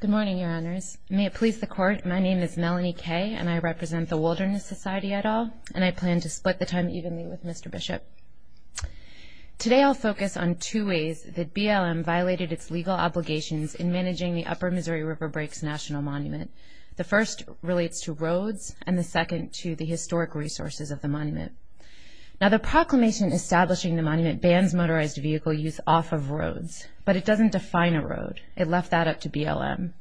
Good morning, your honors. May it please the court, my name is Melanie Kay, and I represent the Wilderness Society at all, and I plan to split the time evenly with Mr. Bishop. Today I'll focus on two ways that BLM violated its legal obligations in managing the Upper Missouri River Breaks National Monument. The first relates to roads, and the second to the historic resources of the monument. Now the proclamation establishing the monument bans motorized vehicle use off of roads, but it doesn't define a road. It left that up to BLM.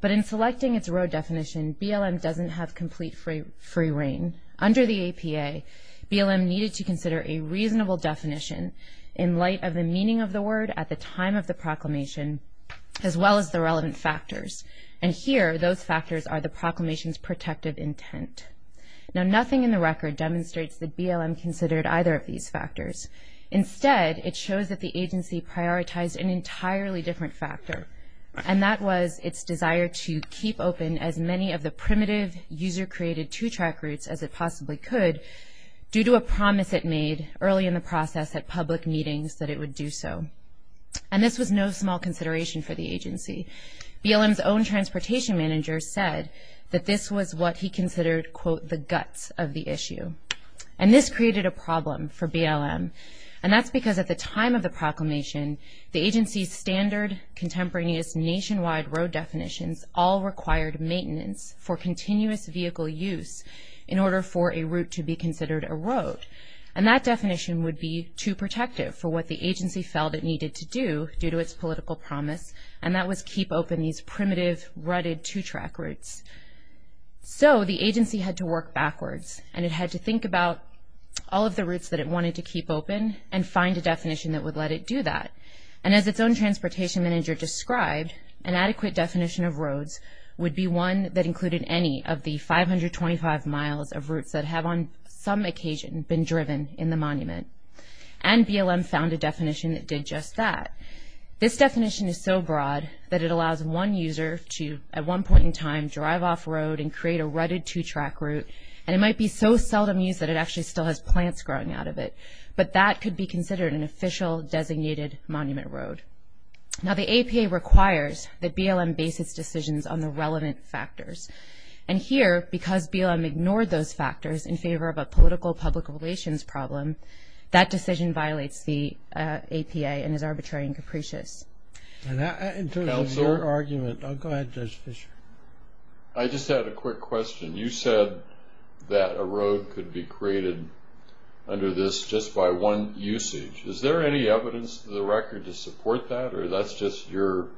But in selecting its road definition, BLM doesn't have complete free reign. Under the APA, BLM needed to consider a reasonable definition in light of the meaning of the word at the time of the proclamation, as well as the relevant factors. And here, those factors are the proclamation's protective intent. Now nothing in the record demonstrates that BLM considered either of these factors. Instead, it shows that the agency prioritized an entirely different factor, and that was its desire to keep open as many of the primitive, user-created two-track routes as it possibly could, due to a promise it made early in the process at public meetings that it would do so. And this was no small consideration for the agency. BLM's own transportation manager said that this was what he considered, quote, the guts of the issue. And this created a problem for BLM, and that's because at the time of the proclamation, the agency's standard contemporaneous nationwide road definitions all required maintenance for continuous vehicle use in order for a route to be considered a road. And that definition would be too protective for what the agency felt it needed to do due to its political promise, and that was keep open these primitive, rutted two-track routes. So the agency had to work backwards, and it had to think about all of the routes that it wanted to keep open and find a definition that would let it do that. And as its own transportation manager described, an adequate definition of roads would be one that included any of the 525 miles of routes that have on some occasion been driven in the monument. And BLM found a definition that did just that. This definition is so broad that it allows one user to, at one point in time, drive off-road and create a rutted two-track route, and it might be so seldom used that it actually still has plants growing out of it. But that could be considered an official designated monument road. Now, the APA requires that BLM base its decisions on the relevant factors. And here, because BLM ignored those factors in favor of a political public relations problem, that decision violates the APA and is arbitrary and capricious. In terms of your argument, I'll go ahead, Judge Fischer. I just had a quick question. You said that a road could be created under this just by one usage. Is there any evidence in the record to support that? Or that's just your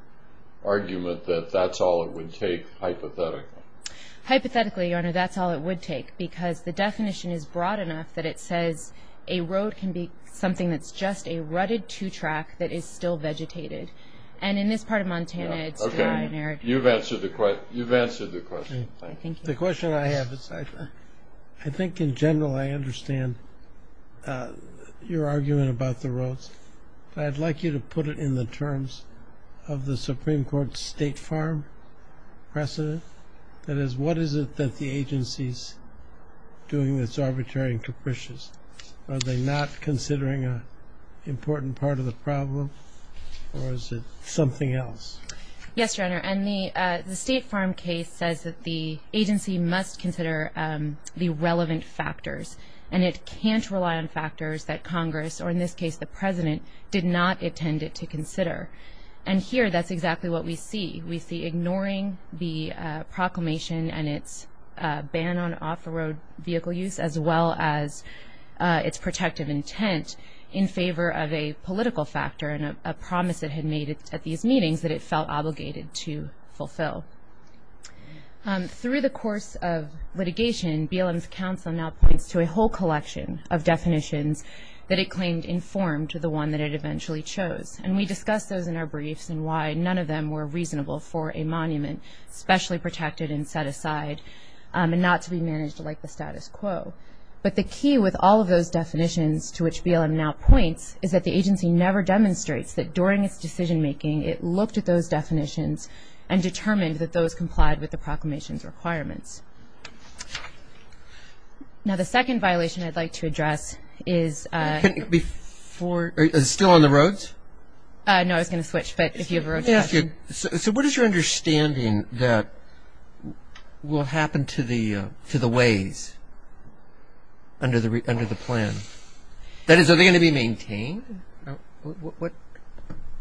argument that that's all it would take, hypothetically? Hypothetically, Your Honor, that's all it would take, because the definition is broad enough that it says a road can be something that's just a rutted two-track that is still vegetated. And in this part of Montana, it's derogatory. Okay. You've answered the question. Thank you. The question I have is I think in general I understand your argument about the roads, but I'd like you to put it in the terms of the Supreme Court's State Farm precedent. That is, what is it that the agency is doing that's arbitrary and capricious? Are they not considering an important part of the problem, or is it something else? Yes, Your Honor. And the State Farm case says that the agency must consider the relevant factors, and it can't rely on factors that Congress, or in this case the President, did not intend it to consider. And here that's exactly what we see. We see ignoring the proclamation and its ban on off-road vehicle use, as well as its protective intent in favor of a political factor and a promise it had made at these meetings that it felt obligated to fulfill. Through the course of litigation, BLM's counsel now points to a whole collection of definitions that it claimed informed the one that it eventually chose. And we discussed those in our briefs and why none of them were reasonable for a monument, especially protected and set aside and not to be managed like the status quo. But the key with all of those definitions, to which BLM now points, is that the agency never demonstrates that during its decision-making it looked at those definitions and determined that those complied with the proclamation's requirements. Now, the second violation I'd like to address is – Is it still on the roads? No, I was going to switch, but if you have a road question. So what is your understanding that will happen to the ways under the plan? That is, are they going to be maintained?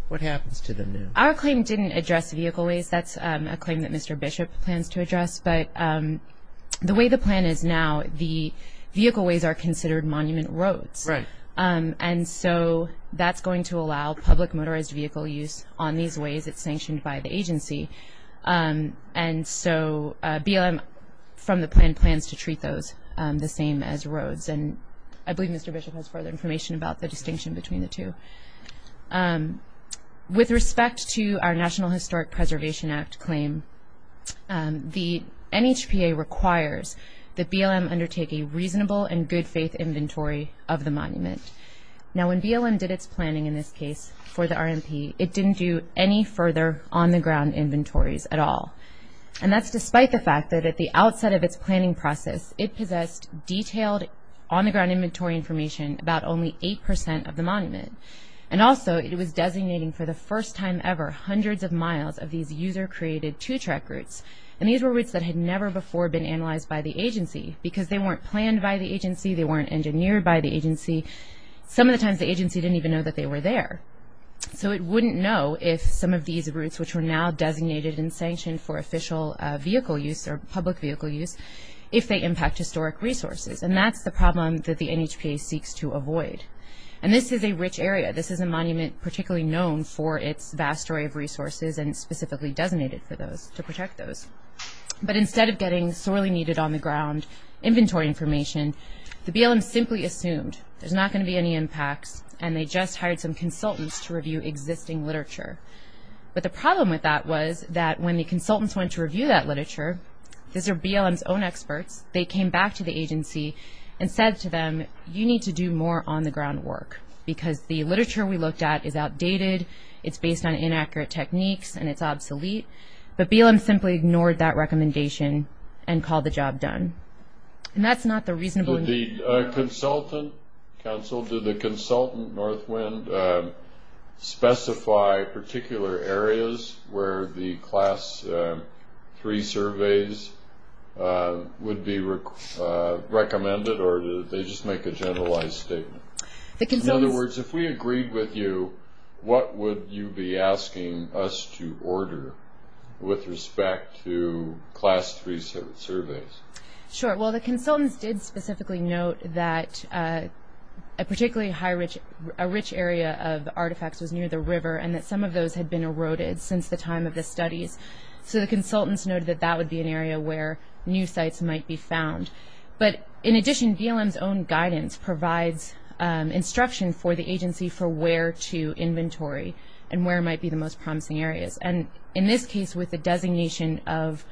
What happens to them now? Our claim didn't address vehicle ways. That's a claim that Mr. Bishop plans to address. But the way the plan is now, the vehicle ways are considered monument roads. And so that's going to allow public motorized vehicle use on these ways. It's sanctioned by the agency. And so BLM, from the plan, plans to treat those the same as roads. And I believe Mr. Bishop has further information about the distinction between the two. With respect to our National Historic Preservation Act claim, the NHPA requires that BLM undertake a reasonable and good-faith inventory of the monument. Now, when BLM did its planning in this case for the RMP, it didn't do any further on-the-ground inventories at all. And that's despite the fact that at the outset of its planning process, it possessed detailed on-the-ground inventory information about only 8% of the monument. And also, it was designating for the first time ever hundreds of miles of these user-created two-track routes. And these were routes that had never before been analyzed by the agency because they weren't planned by the agency. They weren't engineered by the agency. Some of the times, the agency didn't even know that they were there. So it wouldn't know if some of these routes, which were now designated and sanctioned for official vehicle use or public vehicle use, if they impact historic resources. And that's the problem that the NHPA seeks to avoid. And this is a rich area. This is a monument particularly known for its vast array of resources and specifically designated for those, to protect those. But instead of getting sorely needed on-the-ground inventory information, the BLM simply assumed there's not going to be any impacts, and they just hired some consultants to review existing literature. But the problem with that was that when the consultants went to review that literature, these are BLM's own experts. They came back to the agency and said to them, you need to do more on-the-ground work because the literature we looked at is outdated. It's based on inaccurate techniques, and it's obsolete. But BLM simply ignored that recommendation and called the job done. And that's not the reasonable— Did the consultant, counsel, did the consultant, Northwind, specify particular areas where the class three surveys would be recommended or did they just make a generalized statement? In other words, if we agreed with you, what would you be asking us to order with respect to class three surveys? Sure. Well, the consultants did specifically note that a particularly high— a rich area of artifacts was near the river and that some of those had been eroded since the time of the studies. So the consultants noted that that would be an area where new sites might be found. But in addition, BLM's own guidance provides instruction for the agency for where to inventory and where might be the most promising areas. And in this case, with the designation of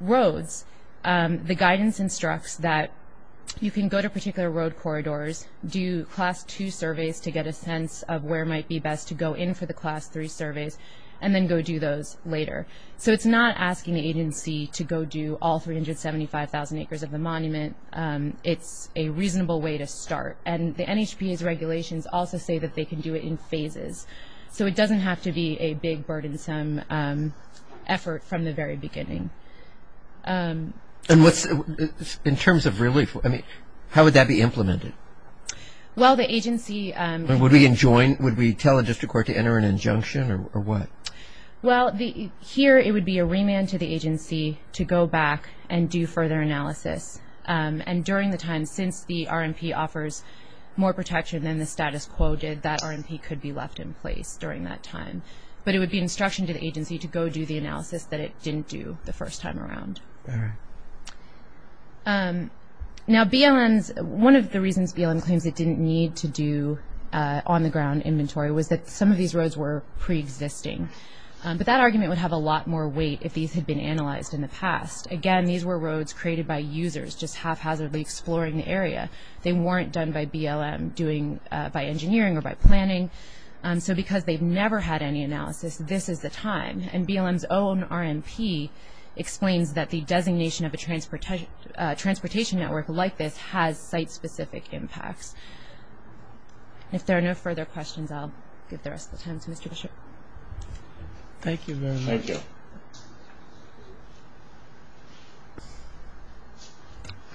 roads, the guidance instructs that you can go to particular road corridors, do class two surveys to get a sense of where might be best to go in for the class three surveys, and then go do those later. So it's not asking the agency to go do all 375,000 acres of the monument. It's a reasonable way to start. And the NHPA's regulations also say that they can do it in phases. So it doesn't have to be a big, burdensome effort from the very beginning. And in terms of relief, how would that be implemented? Well, the agency— Would we tell a district court to enter an injunction or what? Well, here it would be a remand to the agency to go back and do further analysis. And during the time, since the RMP offers more protection than the status quo did, that RMP could be left in place during that time. But it would be instruction to the agency to go do the analysis that it didn't do the first time around. All right. Now, BLM's—one of the reasons BLM claims it didn't need to do on-the-ground inventory was that some of these roads were pre-existing. But that argument would have a lot more weight if these had been analyzed in the past. Again, these were roads created by users just haphazardly exploring the area. They weren't done by BLM doing—by engineering or by planning. So because they've never had any analysis, this is the time. And BLM's own RMP explains that the designation of a transportation network like this has site-specific impacts. If there are no further questions, I'll give the rest of the time to Mr. Bishop. Thank you very much. Thank you.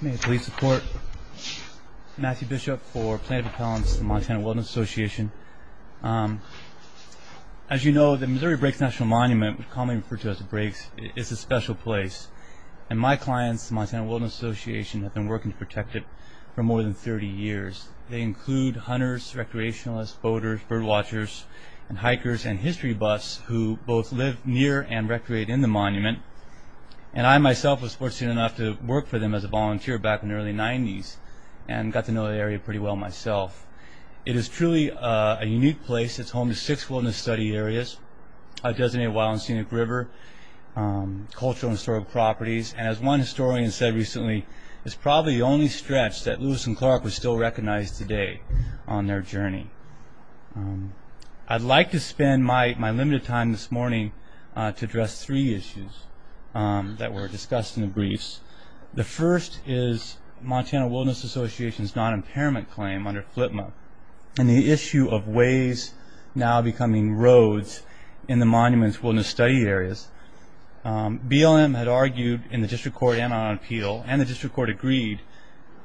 I'm a police support. Matthew Bishop for Planned Parenthood's Montana Wilderness Association. As you know, the Missouri Breaks National Monument, commonly referred to as the Breaks, is a special place. And my clients, the Montana Wilderness Association, have been working to protect it for more than 30 years. They include hunters, recreationalists, boaters, birdwatchers, and hikers and history buffs who both live near and recreate in the monument. And I myself was fortunate enough to work for them as a volunteer back in the early 90s and got to know the area pretty well myself. It is truly a unique place. It's home to six wilderness study areas. I've designated Wild and Scenic River, cultural and historical properties, and as one historian said recently, it's probably the only stretch that Lewis and Clark would still recognize today on their journey. I'd like to spend my limited time this morning to address three issues that were discussed in the briefs. The first is Montana Wilderness Association's non-impairment claim under FLIPMA and the issue of ways now becoming roads in the monument's wilderness study areas. BLM had argued in the district court and on appeal, and the district court agreed,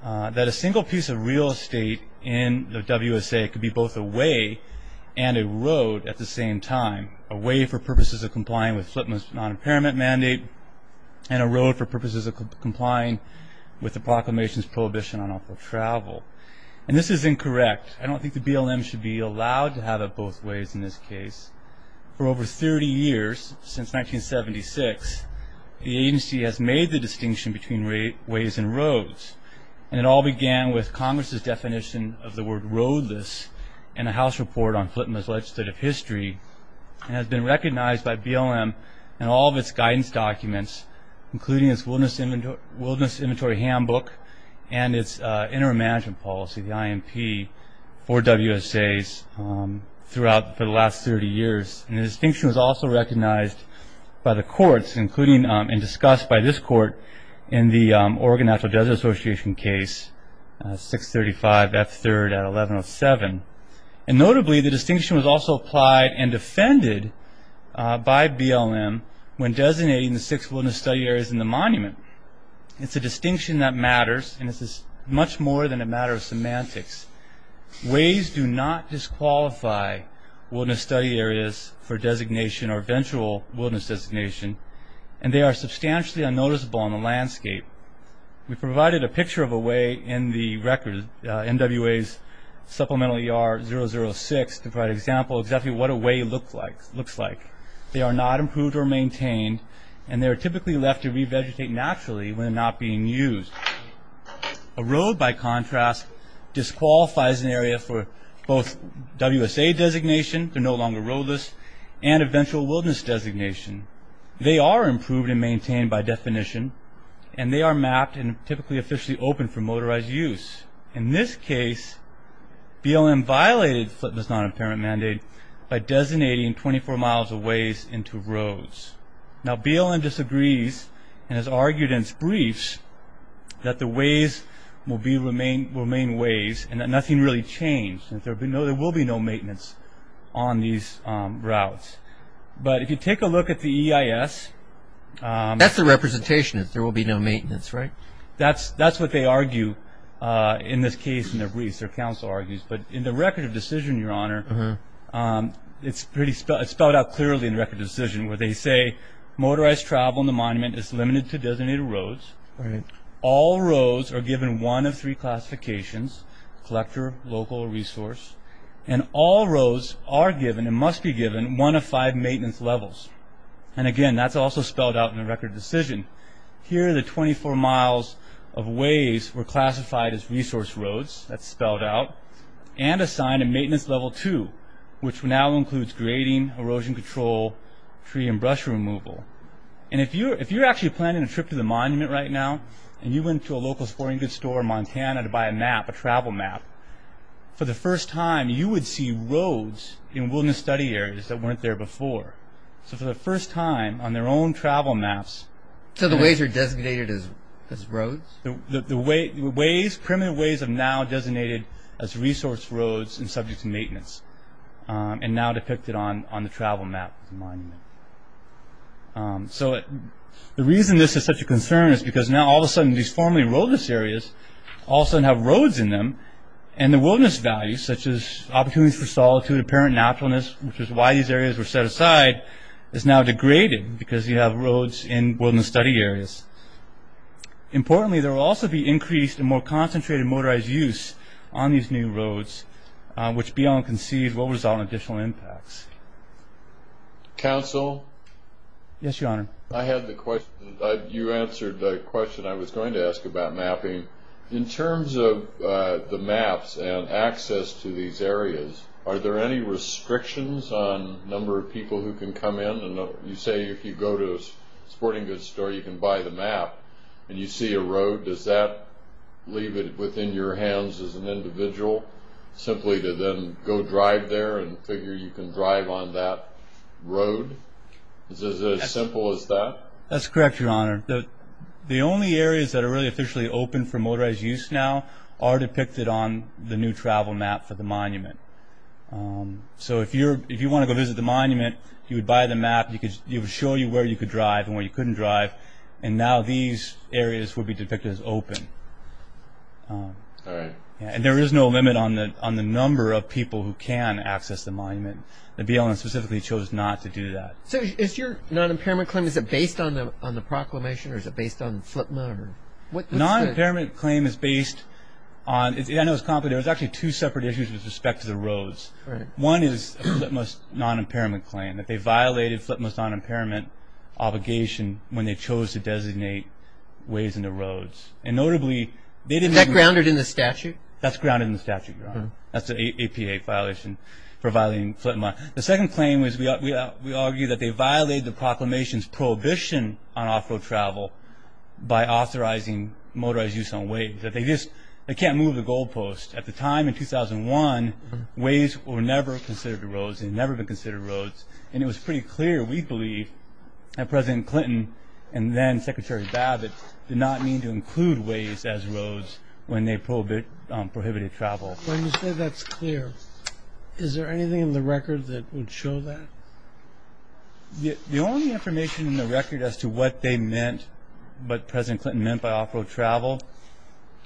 that a single piece of real estate in the WSA could be both a way and a road at the same time. A way for purposes of complying with FLIPMA's non-impairment mandate and a road for purposes of complying with the proclamation's prohibition on off-road travel. This is incorrect. I don't think the BLM should be allowed to have it both ways in this case. For over 30 years, since 1976, the agency has made the distinction between ways and roads. It all began with Congress's definition of the word roadless in a house report on FLIPMA's legislative history. It has been recognized by BLM in all of its guidance documents, including its wilderness inventory handbook and its interim management policy, the IMP, for WSAs throughout the last 30 years. The distinction was also recognized by the courts, including and discussed by this court in the Oregon Natural Desert Association case, 635 F3rd at 1107. Notably, the distinction was also applied and defended by BLM when designating the six wilderness study areas in the monument. It's a distinction that matters, and this is much more than a matter of semantics. Ways do not disqualify wilderness study areas for designation or eventual wilderness designation, and they are substantially unnoticeable on the landscape. We provided a picture of a way in the record, MWA's Supplemental ER-006, to provide an example of exactly what a way looks like. They are not improved or maintained, and they are typically left to revegetate naturally when not being used. A road, by contrast, disqualifies an area for both WSA designation, they're no longer roadless, and eventual wilderness designation. They are improved and maintained by definition, and they are mapped and typically officially open for motorized use. In this case, BLM violated Flint's non-apparent mandate by designating 24 miles of ways into roads. Now, BLM disagrees and has argued in its briefs that the ways will remain ways and that nothing really changed, that there will be no maintenance on these routes. But if you take a look at the EIS... That's the representation, that there will be no maintenance, right? That's what they argue in this case in their briefs, their counsel argues. But in the Record of Decision, Your Honor, it's spelled out clearly in the Record of Decision, where they say motorized travel in the monument is limited to designated roads. All roads are given one of three classifications, collector, local, or resource. And all roads are given, and must be given, one of five maintenance levels. And again, that's also spelled out in the Record of Decision. Here are the 24 miles of ways were classified as resource roads, that's spelled out, and assigned a maintenance level two, which now includes grading, erosion control, tree and brush removal. And if you're actually planning a trip to the monument right now, and you went to a local sporting goods store in Montana to buy a map, a travel map, for the first time you would see roads in wilderness study areas that weren't there before. So for the first time on their own travel maps... So the ways are designated as roads? The ways, primitive ways, are now designated as resource roads and subject to maintenance. And now depicted on the travel map of the monument. So the reason this is such a concern is because now all of a sudden these formerly roadless areas all of a sudden have roads in them, and the wilderness values, such as opportunities for solitude, apparent naturalness, which is why these areas were set aside, is now degraded, because you have roads in wilderness study areas. Importantly, there will also be increased and more concentrated motorized use on these new roads, which beyond conceived will result in additional impacts. Council? Yes, Your Honor. I had the question, you answered the question I was going to ask about mapping. In terms of the maps and access to these areas, are there any restrictions on the number of people who can come in? You say if you go to a sporting goods store you can buy the map, and you see a road, does that leave it within your hands as an individual, simply to then go drive there and figure you can drive on that road? Is it as simple as that? That's correct, Your Honor. The only areas that are really officially open for motorized use now are depicted on the new travel map for the monument. So if you want to go visit the monument, you would buy the map, it would show you where you could drive and where you couldn't drive, and now these areas would be depicted as open. And there is no limit on the number of people who can access the monument. The BLM specifically chose not to do that. So is your non-impairment claim, is it based on the proclamation or is it based on FLIPMA? Non-impairment claim is based on, I know it's complicated, there's actually two separate issues with respect to the roads. One is a FLIPMA non-impairment claim, that they violated FLIPMA's non-impairment obligation when they chose to designate ways in the roads. Is that grounded in the statute? That's grounded in the statute, Your Honor. That's an APA violation for violating FLIPMA. The second claim is we argue that they violated the proclamation's prohibition on off-road travel by authorizing motorized use on ways. They can't move the goal post. At the time in 2001, ways were never considered roads. They had never been considered roads. And it was pretty clear, we believe, that President Clinton and then-Secretary Babbitt did not mean to include ways as roads when they prohibited travel. When you say that's clear, is there anything in the record that would show that? The only information in the record as to what they meant, what President Clinton meant by off-road travel,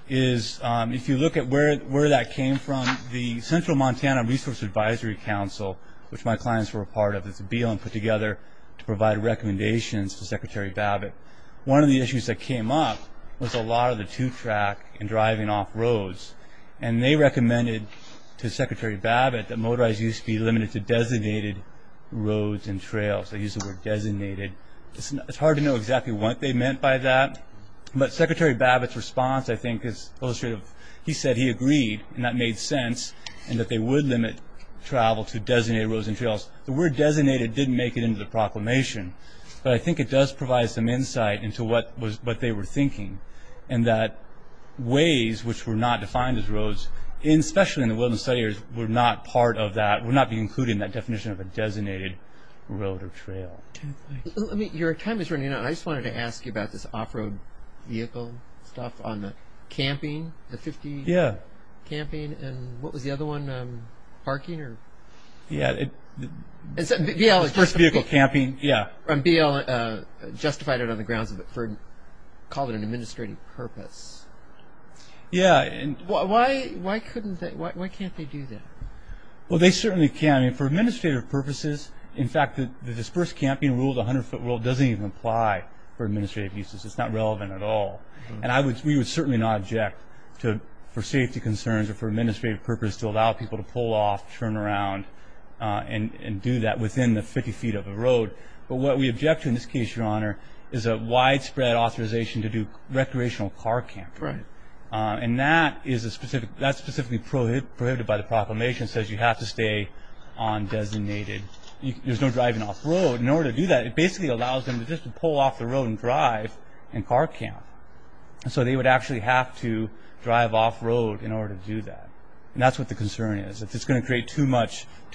is if you look at where that came from, the Central Montana Resource Advisory Council, which my clients were a part of, put together to provide recommendations to Secretary Babbitt. One of the issues that came up was a lot of the two-track and driving off roads. And they recommended to Secretary Babbitt that motorized use be limited to designated roads and trails. They used the word designated. It's hard to know exactly what they meant by that, but Secretary Babbitt's response, I think, is illustrative. He said he agreed, and that made sense, and that they would limit travel to designated roads and trails. The word designated didn't make it into the proclamation, but I think it does provide some insight into what they were thinking, and that ways which were not defined as roads, especially in the wilderness study, were not part of that, would not be included in that definition of a designated road or trail. Your time is running out. I just wanted to ask you about this off-road vehicle stuff, on the camping, the 50 camping, and what was the other one? Parking? Vehicle camping, yeah. BL justified it on the grounds of it wasn't called an administrative purpose. Yeah. Why can't they do that? Well, they certainly can. For administrative purposes, in fact, the dispersed camping rule of the 100-foot rule doesn't even apply for administrative uses. It's not relevant at all. We would certainly not object for safety concerns or for administrative purposes to allow people to pull off, turn around, and do that within the 50 feet of the road. But what we object to in this case, Your Honor, is a widespread authorization to do recreational car camping. Right. And that's specifically prohibited by the proclamation. It says you have to stay on designated. There's no driving off-road. In order to do that, it basically allows them to just pull off the road and drive and car camp. So they would actually have to drive off-road in order to do that. And that's what the concern is. It's just going to create too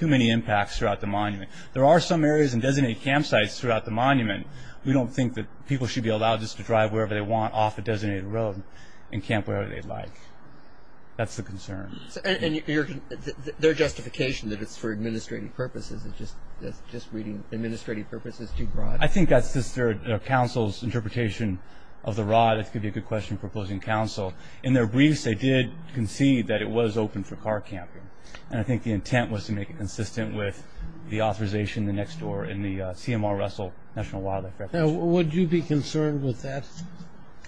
many impacts throughout the monument. There are some areas in designated campsites throughout the monument we don't think that people should be allowed just to drive wherever they want off a designated road and camp wherever they'd like. That's the concern. And their justification that it's for administrative purposes, just reading administrative purposes too broad. I think that's just their counsel's interpretation of the rod. It could be a good question for opposing counsel. In their briefs, they did concede that it was open for car camping. And I think the intent was to make it consistent with the authorization, the next door in the CMR Russell National Wildlife Refuge. Would you be concerned with that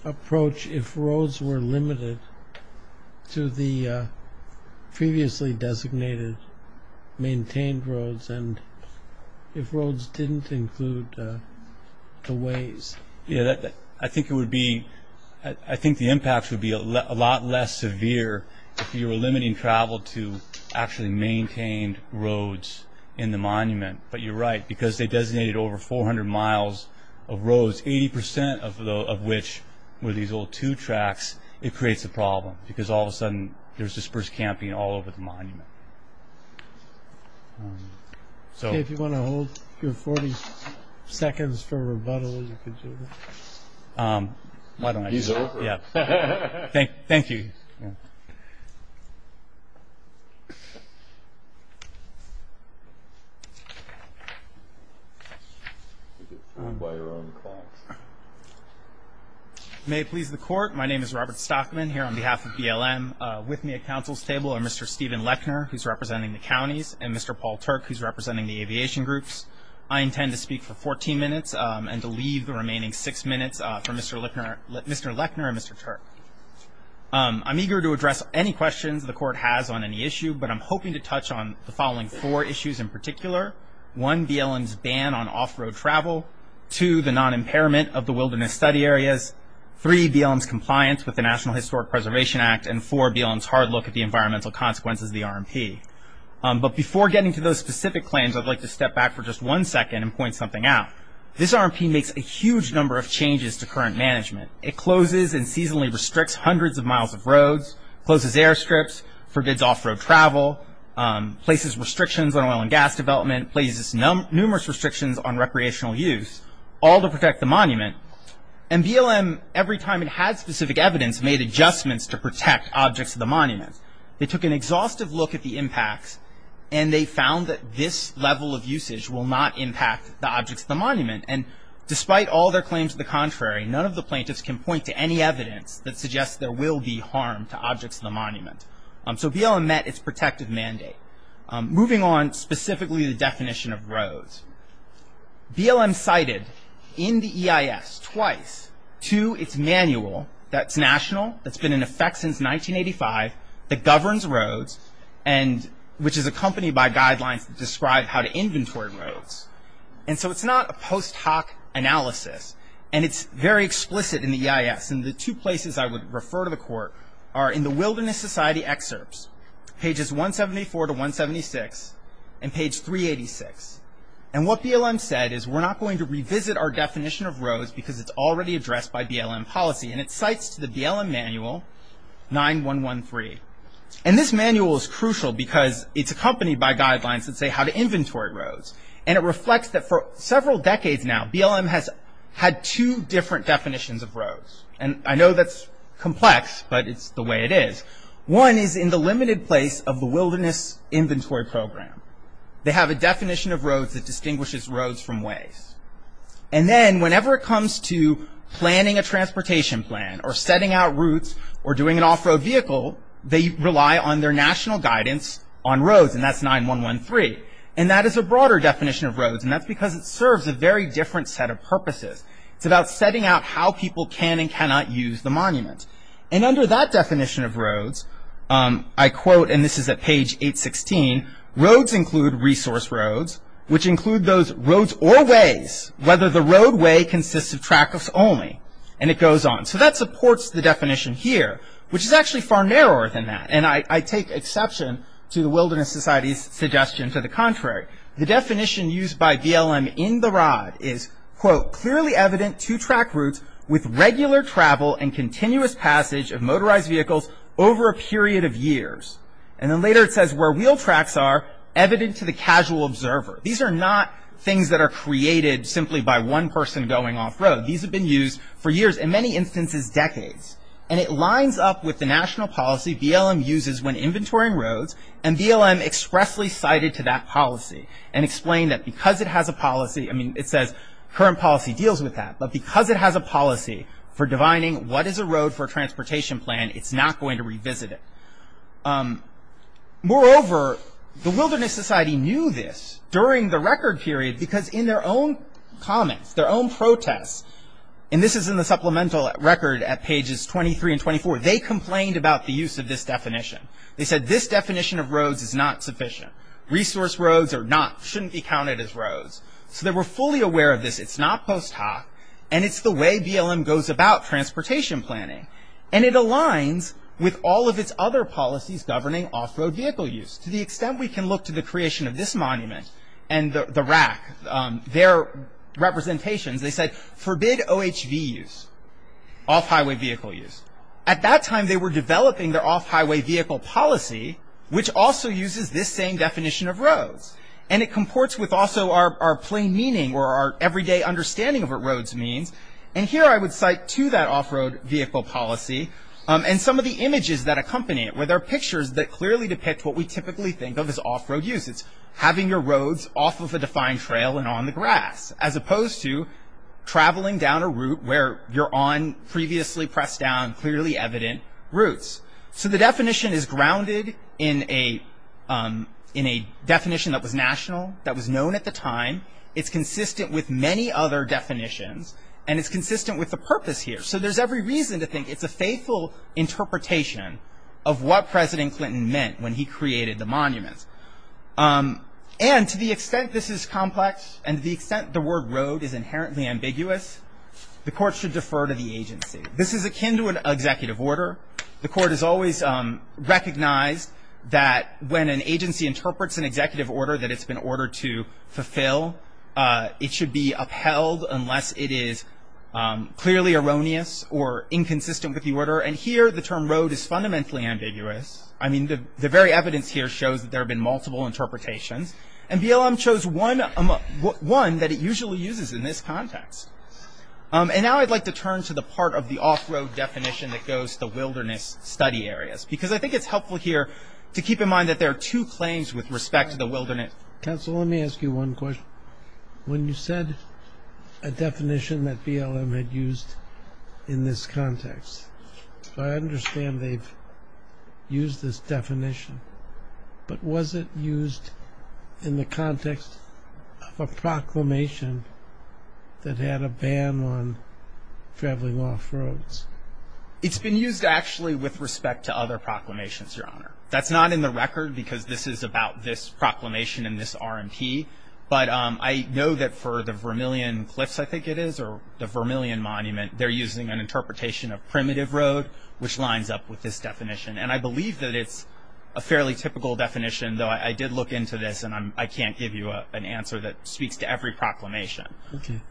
approach if roads were limited to the previously designated maintained roads and if roads didn't include the ways? I think the impact would be a lot less severe if you were limiting travel to actually maintained roads in the monument. But you're right because they designated over 400 miles of roads, 80% of which were these old two tracks. It creates a problem because all of a sudden there's dispersed camping all over the monument. If you want to hold your 40 seconds for rebuttal, you can do that. He's over. Thank you. May it please the Court. My name is Robert Stockman here on behalf of BLM. With me at counsel's table are Mr. Stephen Lechner, who's representing the counties, and Mr. Paul Turk, who's representing the aviation groups. I intend to speak for 14 minutes and to leave the remaining six minutes for Mr. Lechner and Mr. Turk. I'm eager to address any questions the Court has on any issue, but I'm hoping to touch on the following four issues in particular. One, BLM's ban on off-road travel. Two, the non-impairment of the wilderness study areas. Three, BLM's compliance with the National Historic Preservation Act. And four, BLM's hard look at the environmental consequences of the RMP. But before getting to those specific claims, I'd like to step back for just one second and point something out. This RMP makes a huge number of changes to current management. It closes and seasonally restricts hundreds of miles of roads, closes airstrips, forbids off-road travel, places restrictions on oil and gas development, places numerous restrictions on recreational use, all to protect the monument. And BLM, every time it had specific evidence, made adjustments to protect objects of the monument. They took an exhaustive look at the impacts, and they found that this level of usage will not impact the objects of the monument. And despite all their claims to the contrary, none of the plaintiffs can point to any evidence that suggests there will be harm to objects of the monument. So BLM met its protective mandate. Moving on, specifically the definition of roads. BLM cited in the EIS twice to its manual that's national, that's been in effect since 1985, that governs roads, which is accompanied by guidelines that describe how to inventory roads. And so it's not a post hoc analysis. And it's very explicit in the EIS. And the two places I would refer to the court are in the Wilderness Society excerpts, pages 174 to 176, and page 386. And what BLM said is we're not going to revisit our definition of roads because it's already addressed by BLM policy. And it cites to the BLM manual 9113. And this manual is crucial because it's accompanied by guidelines that say how to inventory roads. And it reflects that for several decades now BLM has had two different definitions of roads. And I know that's complex, but it's the way it is. One is in the limited place of the Wilderness Inventory Program. They have a definition of roads that distinguishes roads from ways. And then whenever it comes to planning a transportation plan, or setting out routes, or doing an off-road vehicle, they rely on their national guidance on roads. And that's 9113. And that is a broader definition of roads. And that's because it serves a very different set of purposes. It's about setting out how people can and cannot use the monument. And under that definition of roads, I quote, and this is at page 816, roads include resource roads, which include those roads or ways, whether the roadway consists of trackless only. And it goes on. So that supports the definition here, which is actually far narrower than that. And I take exception to the Wilderness Society's suggestion to the contrary. The definition used by BLM in the rod is, quote, clearly evident to track routes with regular travel and continuous passage of motorized vehicles over a period of years. And then later it says where wheel tracks are evident to the casual observer. These are not things that are created simply by one person going off-road. These have been used for years, in many instances decades. And it lines up with the national policy BLM uses when inventorying roads. And BLM expressly cited to that policy and explained that because it has a policy, I mean, it says current policy deals with that. But because it has a policy for defining what is a road for a transportation plan, it's not going to revisit it. Moreover, the Wilderness Society knew this during the record period because in their own comments, their own protests, and this is in the supplemental record at pages 23 and 24, they complained about the use of this definition. They said this definition of roads is not sufficient. Resource roads are not, shouldn't be counted as roads. So they were fully aware of this. It's not post hoc, and it's the way BLM goes about transportation planning. And it aligns with all of its other policies governing off-road vehicle use to the extent we can look to the creation of this monument and the rack, their representations. They said forbid OHV use, off-highway vehicle use. At that time, they were developing their off-highway vehicle policy, which also uses this same definition of roads. And it comports with also our plain meaning or our everyday understanding of what roads means. And here I would cite to that off-road vehicle policy and some of the images that accompany it, where there are pictures that clearly depict what we typically think of as off-road uses, having your roads off of a defined trail and on the grass, as opposed to traveling down a route where you're on previously pressed down, clearly evident routes. So the definition is grounded in a definition that was national, that was known at the time. It's consistent with many other definitions, and it's consistent with the purpose here. So there's every reason to think it's a faithful interpretation of what President Clinton meant when he created the monument. And to the extent this is complex and to the extent the word road is inherently ambiguous, the court should defer to the agency. This is akin to an executive order. The court has always recognized that when an agency interprets an executive order that it's been ordered to fulfill, it should be upheld unless it is clearly erroneous or inconsistent with the order. And here the term road is fundamentally ambiguous. I mean, the very evidence here shows that there have been multiple interpretations. And BLM chose one that it usually uses in this context. And now I'd like to turn to the part of the off-road definition that goes to the wilderness study areas, because I think it's helpful here to keep in mind that there are two claims with respect to the wilderness. Counsel, let me ask you one question. When you said a definition that BLM had used in this context, I understand they've used this definition. But was it used in the context of a proclamation that had a ban on traveling off roads? It's been used actually with respect to other proclamations, Your Honor. That's not in the record because this is about this proclamation and this RMP. But I know that for the Vermilion Cliffs, I think it is, or the Vermilion Monument, they're using an interpretation of primitive road, which lines up with this definition. And I believe that it's a fairly typical definition, though I did look into this, and I can't give you an answer that speaks to every proclamation.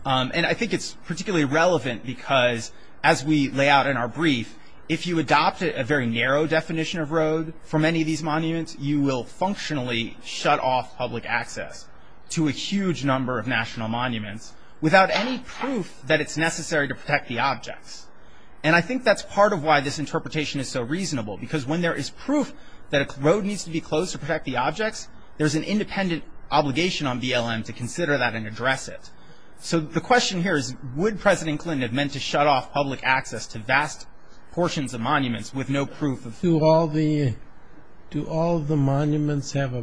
And I think it's particularly relevant because as we lay out in our brief, if you adopt a very narrow definition of road for many of these monuments, you will functionally shut off public access to a huge number of national monuments without any proof that it's necessary to protect the objects. And I think that's part of why this interpretation is so reasonable, because when there is proof that a road needs to be closed to protect the objects, there's an independent obligation on BLM to consider that and address it. So the question here is, would President Clinton have meant to shut off public access to vast portions of monuments with no proof? Do all the monuments have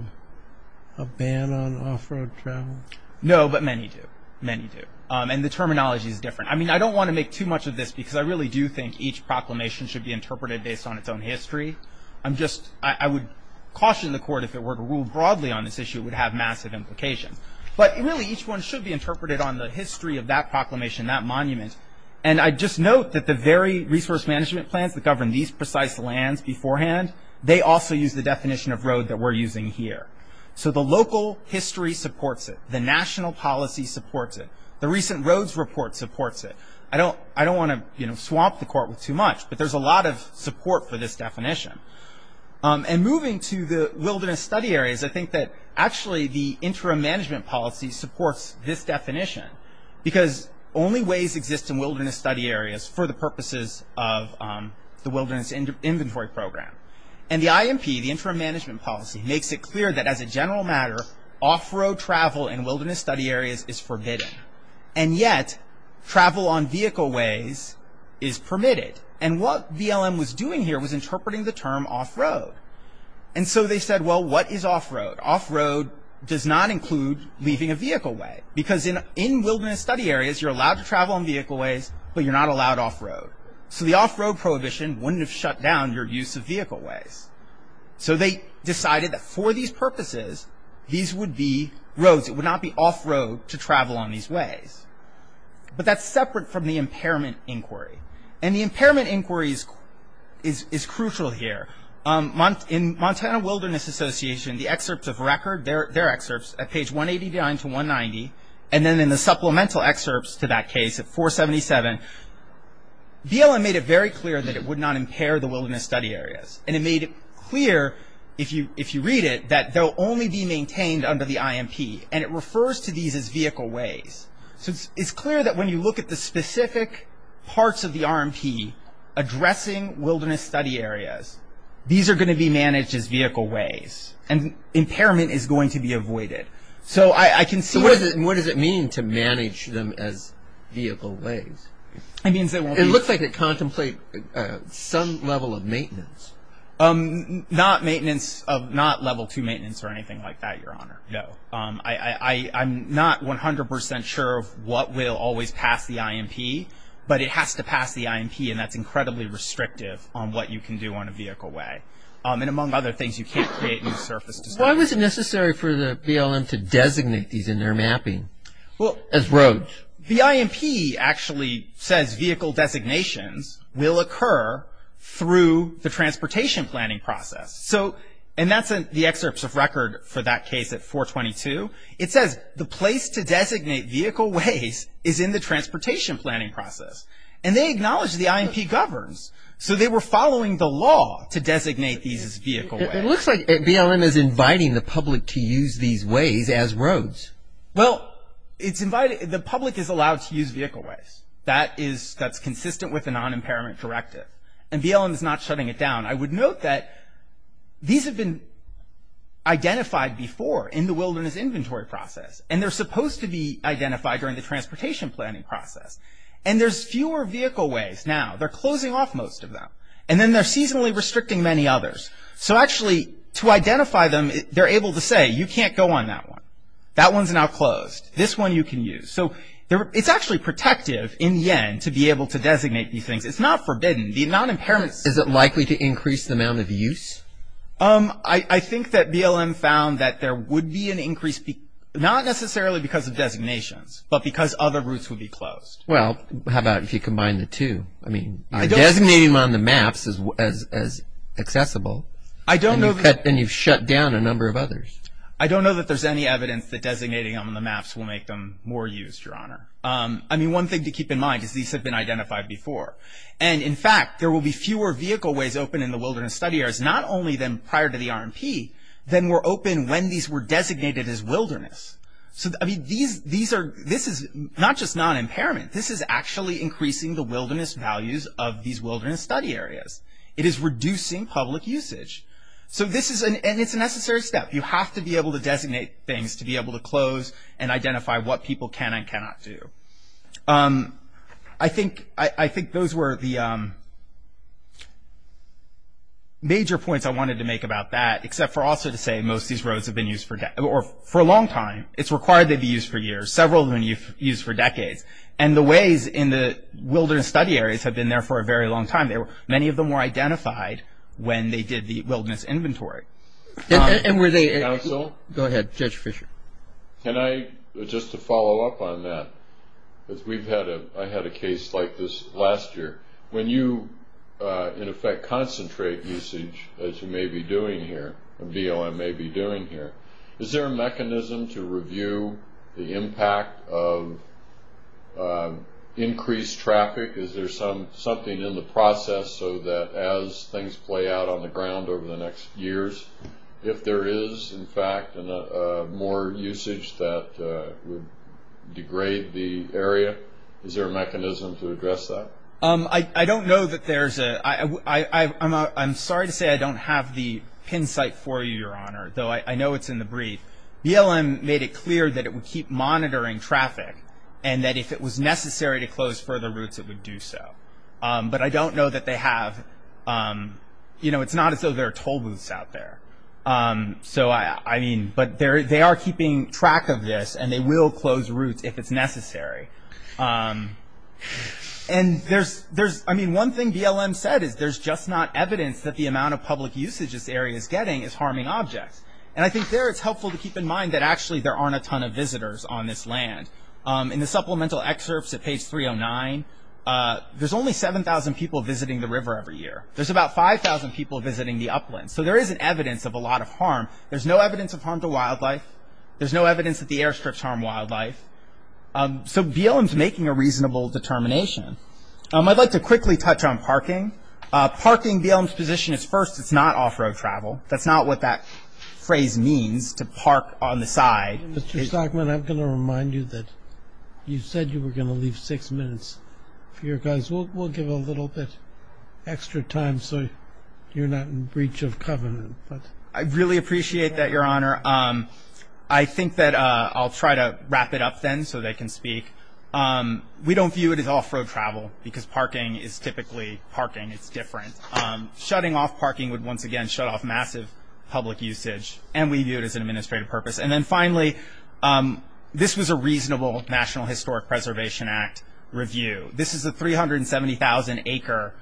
a ban on off-road travel? No, but many do. Many do. And the terminology is different. I mean, I don't want to make too much of this because I really do think each proclamation should be interpreted based on its own history. I would caution the Court if it were to rule broadly on this issue, it would have massive implications. But really, each one should be interpreted on the history of that proclamation, that monument. And I just note that the very resource management plans that govern these precise lands beforehand, they also use the definition of road that we're using here. So the local history supports it. The national policy supports it. The recent roads report supports it. I don't want to swamp the Court with too much, but there's a lot of support for this definition. And moving to the Wilderness Study Areas, I think that actually the Interim Management Policy supports this definition because only ways exist in Wilderness Study Areas for the purposes of the Wilderness Inventory Program. And the IMP, the Interim Management Policy, makes it clear that as a general matter, off-road travel in Wilderness Study Areas is forbidden. And yet, travel on vehicle ways is permitted. And what BLM was doing here was interpreting the term off-road. And so they said, well, what is off-road? Off-road does not include leaving a vehicle way. Because in Wilderness Study Areas, you're allowed to travel on vehicle ways, but you're not allowed off-road. So the off-road prohibition wouldn't have shut down your use of vehicle ways. So they decided that for these purposes, these would be roads. It would not be off-road to travel on these ways. But that's separate from the impairment inquiry. And the impairment inquiry is crucial here. In Montana Wilderness Association, the excerpts of record, their excerpts, at page 189 to 190, and then in the supplemental excerpts to that case at 477, BLM made it very clear that it would not impair the Wilderness Study Areas. And it made it clear, if you read it, that they'll only be maintained under the IMP. And it refers to these as vehicle ways. So it's clear that when you look at the specific parts of the RMP addressing Wilderness Study Areas, these are going to be managed as vehicle ways. And impairment is going to be avoided. So I can see what the- So what does it mean to manage them as vehicle ways? It means they won't be- It looks like they contemplate some level of maintenance. Not maintenance, not level 2 maintenance or anything like that, Your Honor, no. I'm not 100% sure of what will always pass the IMP, but it has to pass the IMP, and that's incredibly restrictive on what you can do on a vehicle way. And among other things, you can't create new surface- Why was it necessary for the BLM to designate these in their mapping as roads? The IMP actually says vehicle designations will occur through the transportation planning process. So, and that's the excerpts of record for that case at 422. It says the place to designate vehicle ways is in the transportation planning process. And they acknowledge the IMP governs. So they were following the law to designate these as vehicle ways. It looks like BLM is inviting the public to use these ways as roads. Well, it's invited- the public is allowed to use vehicle ways. That is- that's consistent with the non-impairment directive. And BLM is not shutting it down. I would note that these have been identified before in the wilderness inventory process, and they're supposed to be identified during the transportation planning process. And there's fewer vehicle ways now. They're closing off most of them. And then they're seasonally restricting many others. So actually, to identify them, they're able to say, you can't go on that one. That one's now closed. This one you can use. So it's actually protective in the end to be able to designate these things. It's not forbidden. The non-impairments- Is it likely to increase the amount of use? I think that BLM found that there would be an increase, not necessarily because of designations, but because other routes would be closed. Well, how about if you combine the two? I mean, designating them on the maps is accessible. I don't know- And you've shut down a number of others. I don't know that there's any evidence that designating them on the maps will make them more used, Your Honor. I mean, one thing to keep in mind is these have been identified before. And, in fact, there will be fewer vehicle ways open in the wilderness study areas, not only prior to the RMP, than were open when these were designated as wilderness. So, I mean, these are- this is not just non-impairment. This is actually increasing the wilderness values of these wilderness study areas. It is reducing public usage. So this is- and it's a necessary step. You have to be able to designate things to be able to close and identify what people can and cannot do. I think those were the major points I wanted to make about that, except for also to say most of these roads have been used for a long time. It's required they be used for years. Several have been used for decades. And the ways in the wilderness study areas have been there for a very long time. Many of them were identified when they did the wilderness inventory. And were they- Counsel? Go ahead, Judge Fischer. Can I- just to follow up on that, because we've had a- I had a case like this last year. When you, in effect, concentrate usage, as you may be doing here, or BLM may be doing here, is there a mechanism to review the impact of increased traffic? Is there something in the process so that as things play out on the ground over the next years, if there is, in fact, more usage that would degrade the area, is there a mechanism to address that? I don't know that there's a- I'm sorry to say I don't have the pin site for you, Your Honor, though I know it's in the brief. BLM made it clear that it would keep monitoring traffic and that if it was necessary to close further routes, it would do so. But I don't know that they have- it's not as though there are toll booths out there. So I mean- but they are keeping track of this, and they will close routes if it's necessary. And there's- I mean, one thing BLM said is there's just not evidence that the amount of public usage this area is getting is harming objects. And I think there it's helpful to keep in mind that actually there aren't a ton of visitors on this land. In the supplemental excerpts at page 309, there's only 7,000 people visiting the river every year. There's about 5,000 people visiting the uplands. So there is an evidence of a lot of harm. There's no evidence of harm to wildlife. There's no evidence that the airstrips harm wildlife. So BLM's making a reasonable determination. I'd like to quickly touch on parking. Parking, BLM's position is first, it's not off-road travel. That's not what that phrase means, to park on the side. Mr. Stockman, I'm going to remind you that you said you were going to leave six minutes for your guys. We'll give a little bit extra time so you're not in breach of covenant. I really appreciate that, Your Honor. I think that I'll try to wrap it up then so they can speak. We don't view it as off-road travel because parking is typically parking. It's different. Shutting off parking would once again shut off massive public usage, and we view it as an administrative purpose. And then finally, this was a reasonable National Historic Preservation Act review. This is a 370,000-acre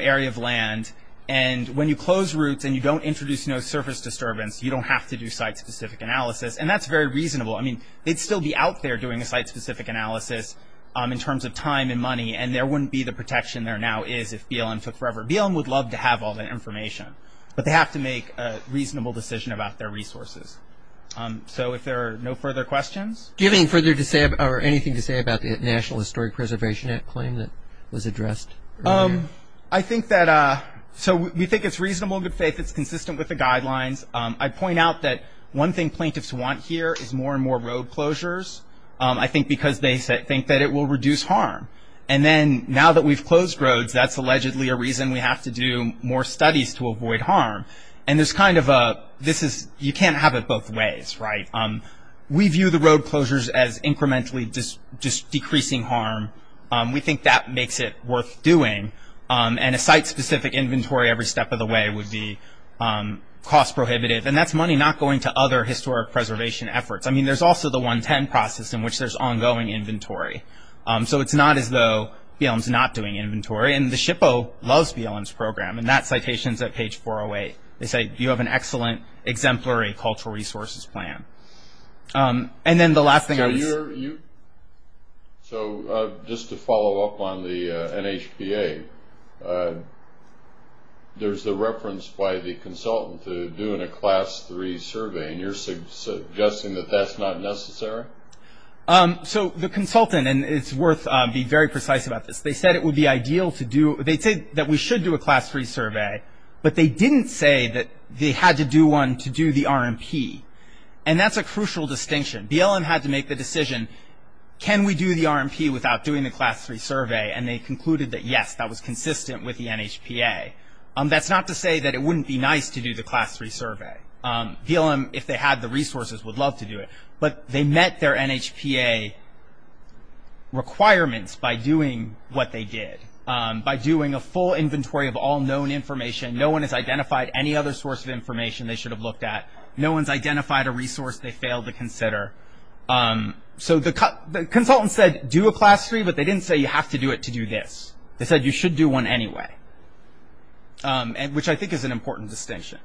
area of land, and when you close routes and you don't introduce no surface disturbance, you don't have to do site-specific analysis, and that's very reasonable. I mean, they'd still be out there doing a site-specific analysis in terms of time and money, and there wouldn't be the protection there now is if BLM took forever. BLM would love to have all that information, but they have to make a reasonable decision about their resources. So if there are no further questions? Do you have anything further to say or anything to say about the National Historic Preservation Act claim that was addressed earlier? I think that so we think it's reasonable in good faith. It's consistent with the guidelines. I'd point out that one thing plaintiffs want here is more and more road closures, I think because they think that it will reduce harm. And then now that we've closed roads, that's allegedly a reason we have to do more studies to avoid harm. And there's kind of a this is you can't have it both ways, right? We view the road closures as incrementally just decreasing harm. We think that makes it worth doing, and a site-specific inventory every step of the way would be cost-prohibitive, and that's money not going to other historic preservation efforts. I mean, there's also the 110 process in which there's ongoing inventory. So it's not as though BLM's not doing inventory, and the SHPO loves BLM's program, and that citation's at page 408. They say you have an excellent exemplary cultural resources plan. And then the last thing I was going to say. So just to follow up on the NHPA, there's a reference by the consultant to doing a Class 3 survey, and you're suggesting that that's not necessary? So the consultant, and it's worth being very precise about this, they said it would be ideal to do they said that we should do a Class 3 survey, but they didn't say that they had to do one to do the RMP. And that's a crucial distinction. BLM had to make the decision, can we do the RMP without doing the Class 3 survey? And they concluded that, yes, that was consistent with the NHPA. That's not to say that it wouldn't be nice to do the Class 3 survey. BLM, if they had the resources, would love to do it. But they met their NHPA requirements by doing what they did, by doing a full inventory of all known information. No one has identified any other source of information they should have looked at. No one's identified a resource they failed to consider. So the consultant said do a Class 3, but they didn't say you have to do it to do this. They said you should do one anyway, which I think is an important distinction.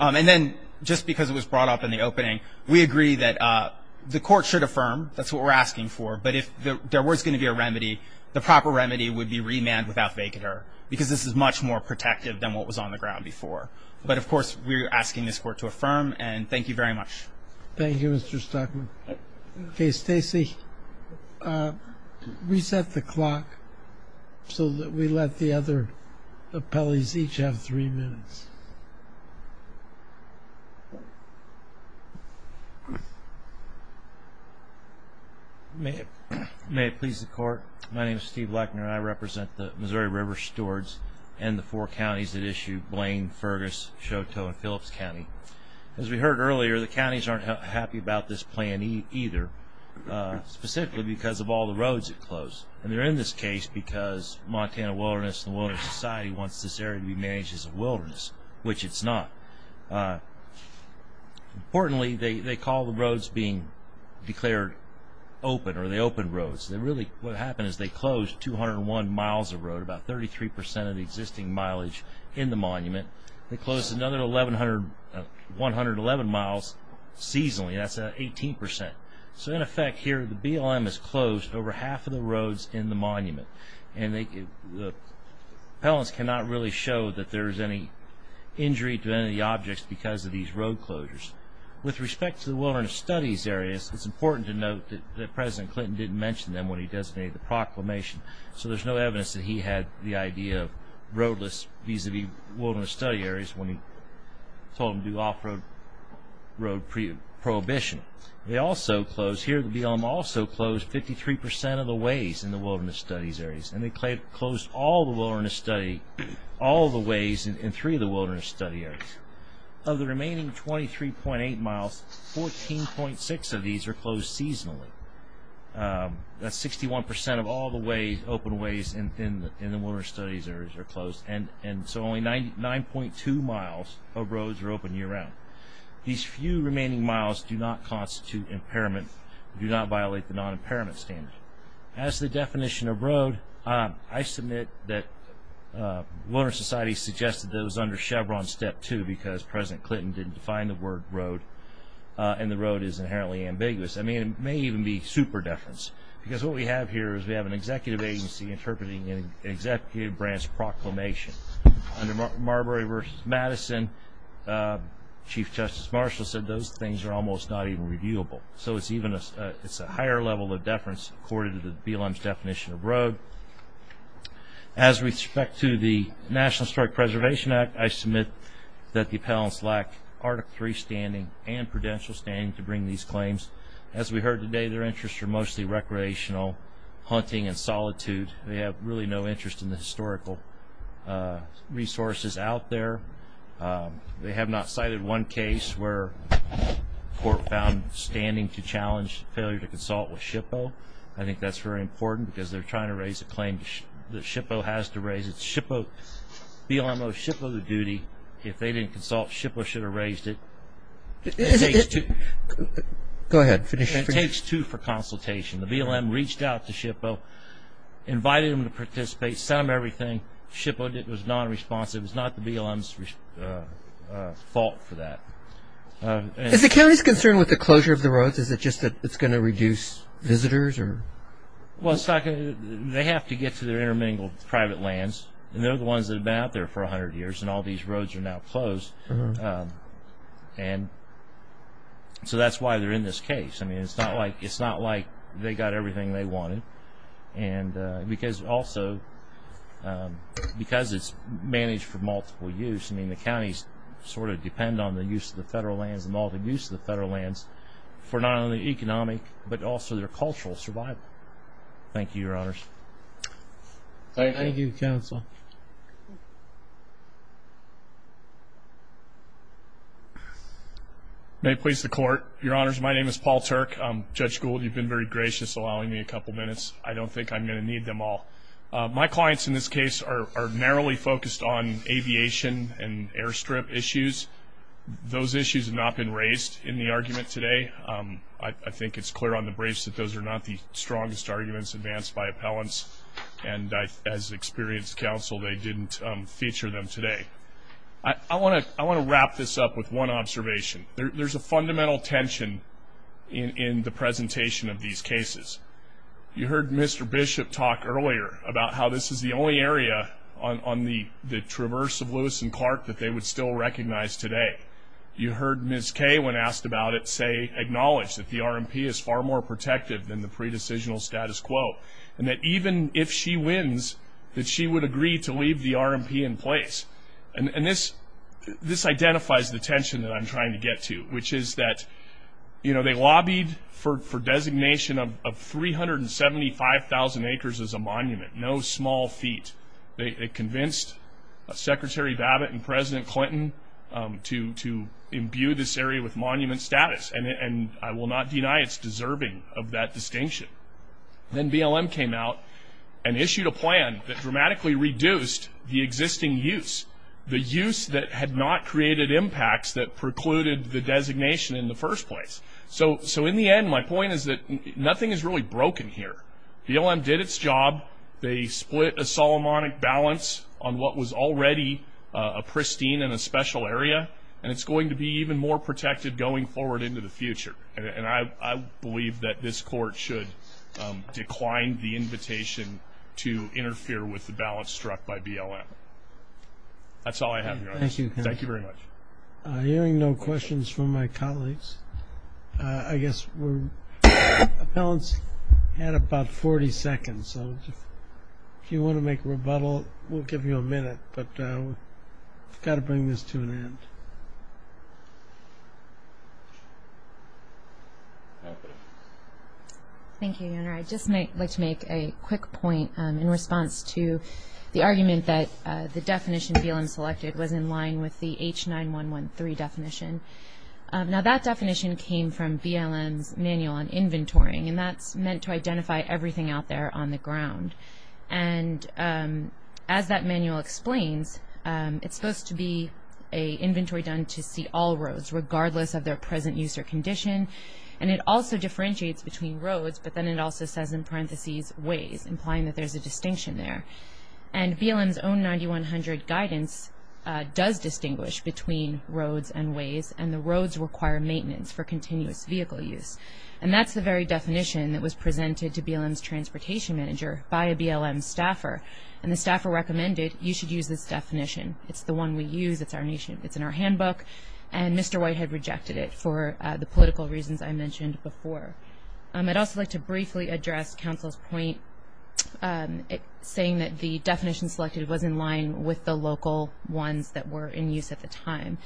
And then just because it was brought up in the opening, we agree that the court should affirm. That's what we're asking for. But if there was going to be a remedy, the proper remedy would be remand without vacater, because this is much more protective than what was on the ground before. But, of course, we're asking this court to affirm, and thank you very much. Thank you, Mr. Stockman. Okay, Stacy, reset the clock so that we let the other appellees each have three minutes. May it please the court? My name is Steve Leckner, and I represent the Missouri River Stewards and the four counties that issue Blaine, Fergus, Chouteau, and Phillips County. As we heard earlier, the counties aren't happy about this plan either, specifically because of all the roads that close. And they're in this case because Montana Wilderness and the Wilderness Society wants this area to be managed as a wilderness, which it's not. Importantly, they call the roads being declared open, or they open roads. Really what happened is they closed 201 miles of road, about 33 percent of the existing mileage in the monument. They closed another 111 miles seasonally. That's 18 percent. So, in effect, here the BLM has closed over half of the roads in the monument. Appellants cannot really show that there is any injury to any of the objects because of these road closures. With respect to the wilderness studies areas, it's important to note that President Clinton didn't mention them when he designated the proclamation, so there's no evidence that he had the idea of roadless vis-a-vis wilderness study areas when he told them to do off-road road prohibition. They also closed, here the BLM also closed 53 percent of the ways in the wilderness studies areas, and they closed all the ways in three of the wilderness study areas. Of the remaining 23.8 miles, 14.6 of these are closed seasonally. That's 61 percent of all the open ways in the wilderness studies areas are closed, and so only 9.2 miles of roads are open year-round. These few remaining miles do not constitute impairment, do not violate the non-impairment standard. As to the definition of road, I submit that the Wilderness Society suggested that it was under Chevron Step 2 because President Clinton didn't define the word road, and the road is inherently ambiguous. I mean, it may even be super-deference, because what we have here is we have an executive agency interpreting an executive branch proclamation. Under Marbury v. Madison, Chief Justice Marshall said those things are almost not even reviewable, so it's a higher level of deference according to the BLM's definition of road. As respect to the National Historic Preservation Act, I submit that the appellants lack Article 3 standing and prudential standing to bring these claims. As we heard today, their interests are mostly recreational, hunting, and solitude. They have really no interest in the historical resources out there. They have not cited one case where a court found standing to challenge failure to consult with SHPO. I think that's very important, because they're trying to raise a claim that SHPO has to raise it. BLM owes SHPO the duty. If they didn't consult, SHPO should have raised it. It takes two for consultation. The BLM reached out to SHPO, invited them to participate, sent them everything. SHPO was nonresponsive. It was not the BLM's fault for that. Is the county's concern with the closure of the roads, is it just that it's going to reduce visitors? They have to get to their intermingled private lands. They're the ones that have been out there for 100 years, and all these roads are now closed. That's why they're in this case. It's not like they got everything they wanted. Also, because it's managed for multiple use, the counties sort of depend on the use of the federal lands and all the use of the federal lands for not only economic, but also their cultural survival. Thank you, Your Honors. Thank you, Counsel. May it please the Court. Your Honors, my name is Paul Turk. Judge Gould, you've been very gracious allowing me a couple minutes. I don't think I'm going to need them all. My clients in this case are narrowly focused on aviation and airstrip issues. Those issues have not been raised in the argument today. I think it's clear on the briefs that those are not the strongest arguments advanced by appellants, and as experienced counsel, they didn't feature them today. I want to wrap this up with one observation. There's a fundamental tension in the presentation of these cases. You heard Mr. Bishop talk earlier about how this is the only area on the traverse of Lewis and Clark that they would still recognize today. You heard Ms. Kay, when asked about it, say, acknowledge that the RMP is far more protective than the pre-decisional status quo, and that even if she wins, that she would agree to leave the RMP in place. This identifies the tension that I'm trying to get to, which is that they lobbied for designation of 375,000 acres as a monument, no small feat. They convinced Secretary Babbitt and President Clinton to imbue this area with monument status, and I will not deny it's deserving of that distinction. Then BLM came out and issued a plan that dramatically reduced the existing use, the use that had not created impacts that precluded the designation in the first place. So in the end, my point is that nothing is really broken here. BLM did its job. They split a Solomonic balance on what was already a pristine and a special area, and it's going to be even more protected going forward into the future, and I believe that this court should decline the invitation to interfere with the balance struck by BLM. That's all I have, Your Honor. Thank you. Thank you very much. Hearing no questions from my colleagues. I guess we're at about 40 seconds, so if you want to make a rebuttal, we'll give you a minute, but we've got to bring this to an end. Thank you, Your Honor. I'd just like to make a quick point in response to the argument that the definition BLM selected was in line with the H9113 definition. Now that definition came from BLM's Manual on Inventory, and that's meant to identify everything out there on the ground. And as that manual explains, it's supposed to be an inventory done to see all roads, regardless of their present use or condition, and it also differentiates between roads, but then it also says in parentheses, ways, implying that there's a distinction there. And BLM's own 9100 guidance does distinguish between roads and ways, and the roads require maintenance for continuous vehicle use. And that's the very definition that was presented to BLM's transportation manager by a BLM staffer, and the staffer recommended, you should use this definition. It's the one we use. It's our nation. It's in our handbook, and Mr. Whitehead rejected it for the political reasons I mentioned before. I'd also like to briefly address counsel's point saying that the definition selected was in line with the local ones that were in use at the time.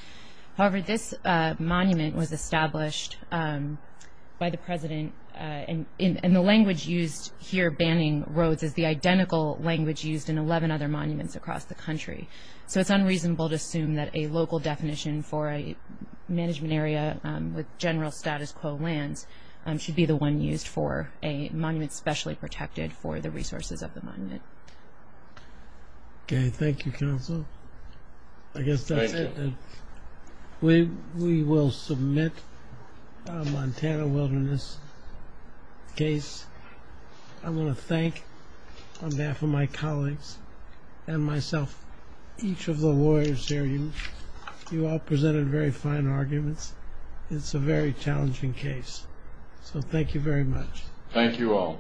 However, this monument was established by the president, and the language used here banning roads is the identical language used in 11 other monuments across the country. So it's unreasonable to assume that a local definition for a management area with general status quo lands should be the one used for a monument specially protected for the resources of the monument. Okay. Thank you, counsel. I guess that's it. We will submit a Montana wilderness case. I want to thank, on behalf of my colleagues and myself, each of the lawyers here. You all presented very fine arguments. It's a very challenging case. So thank you very much. Thank you all.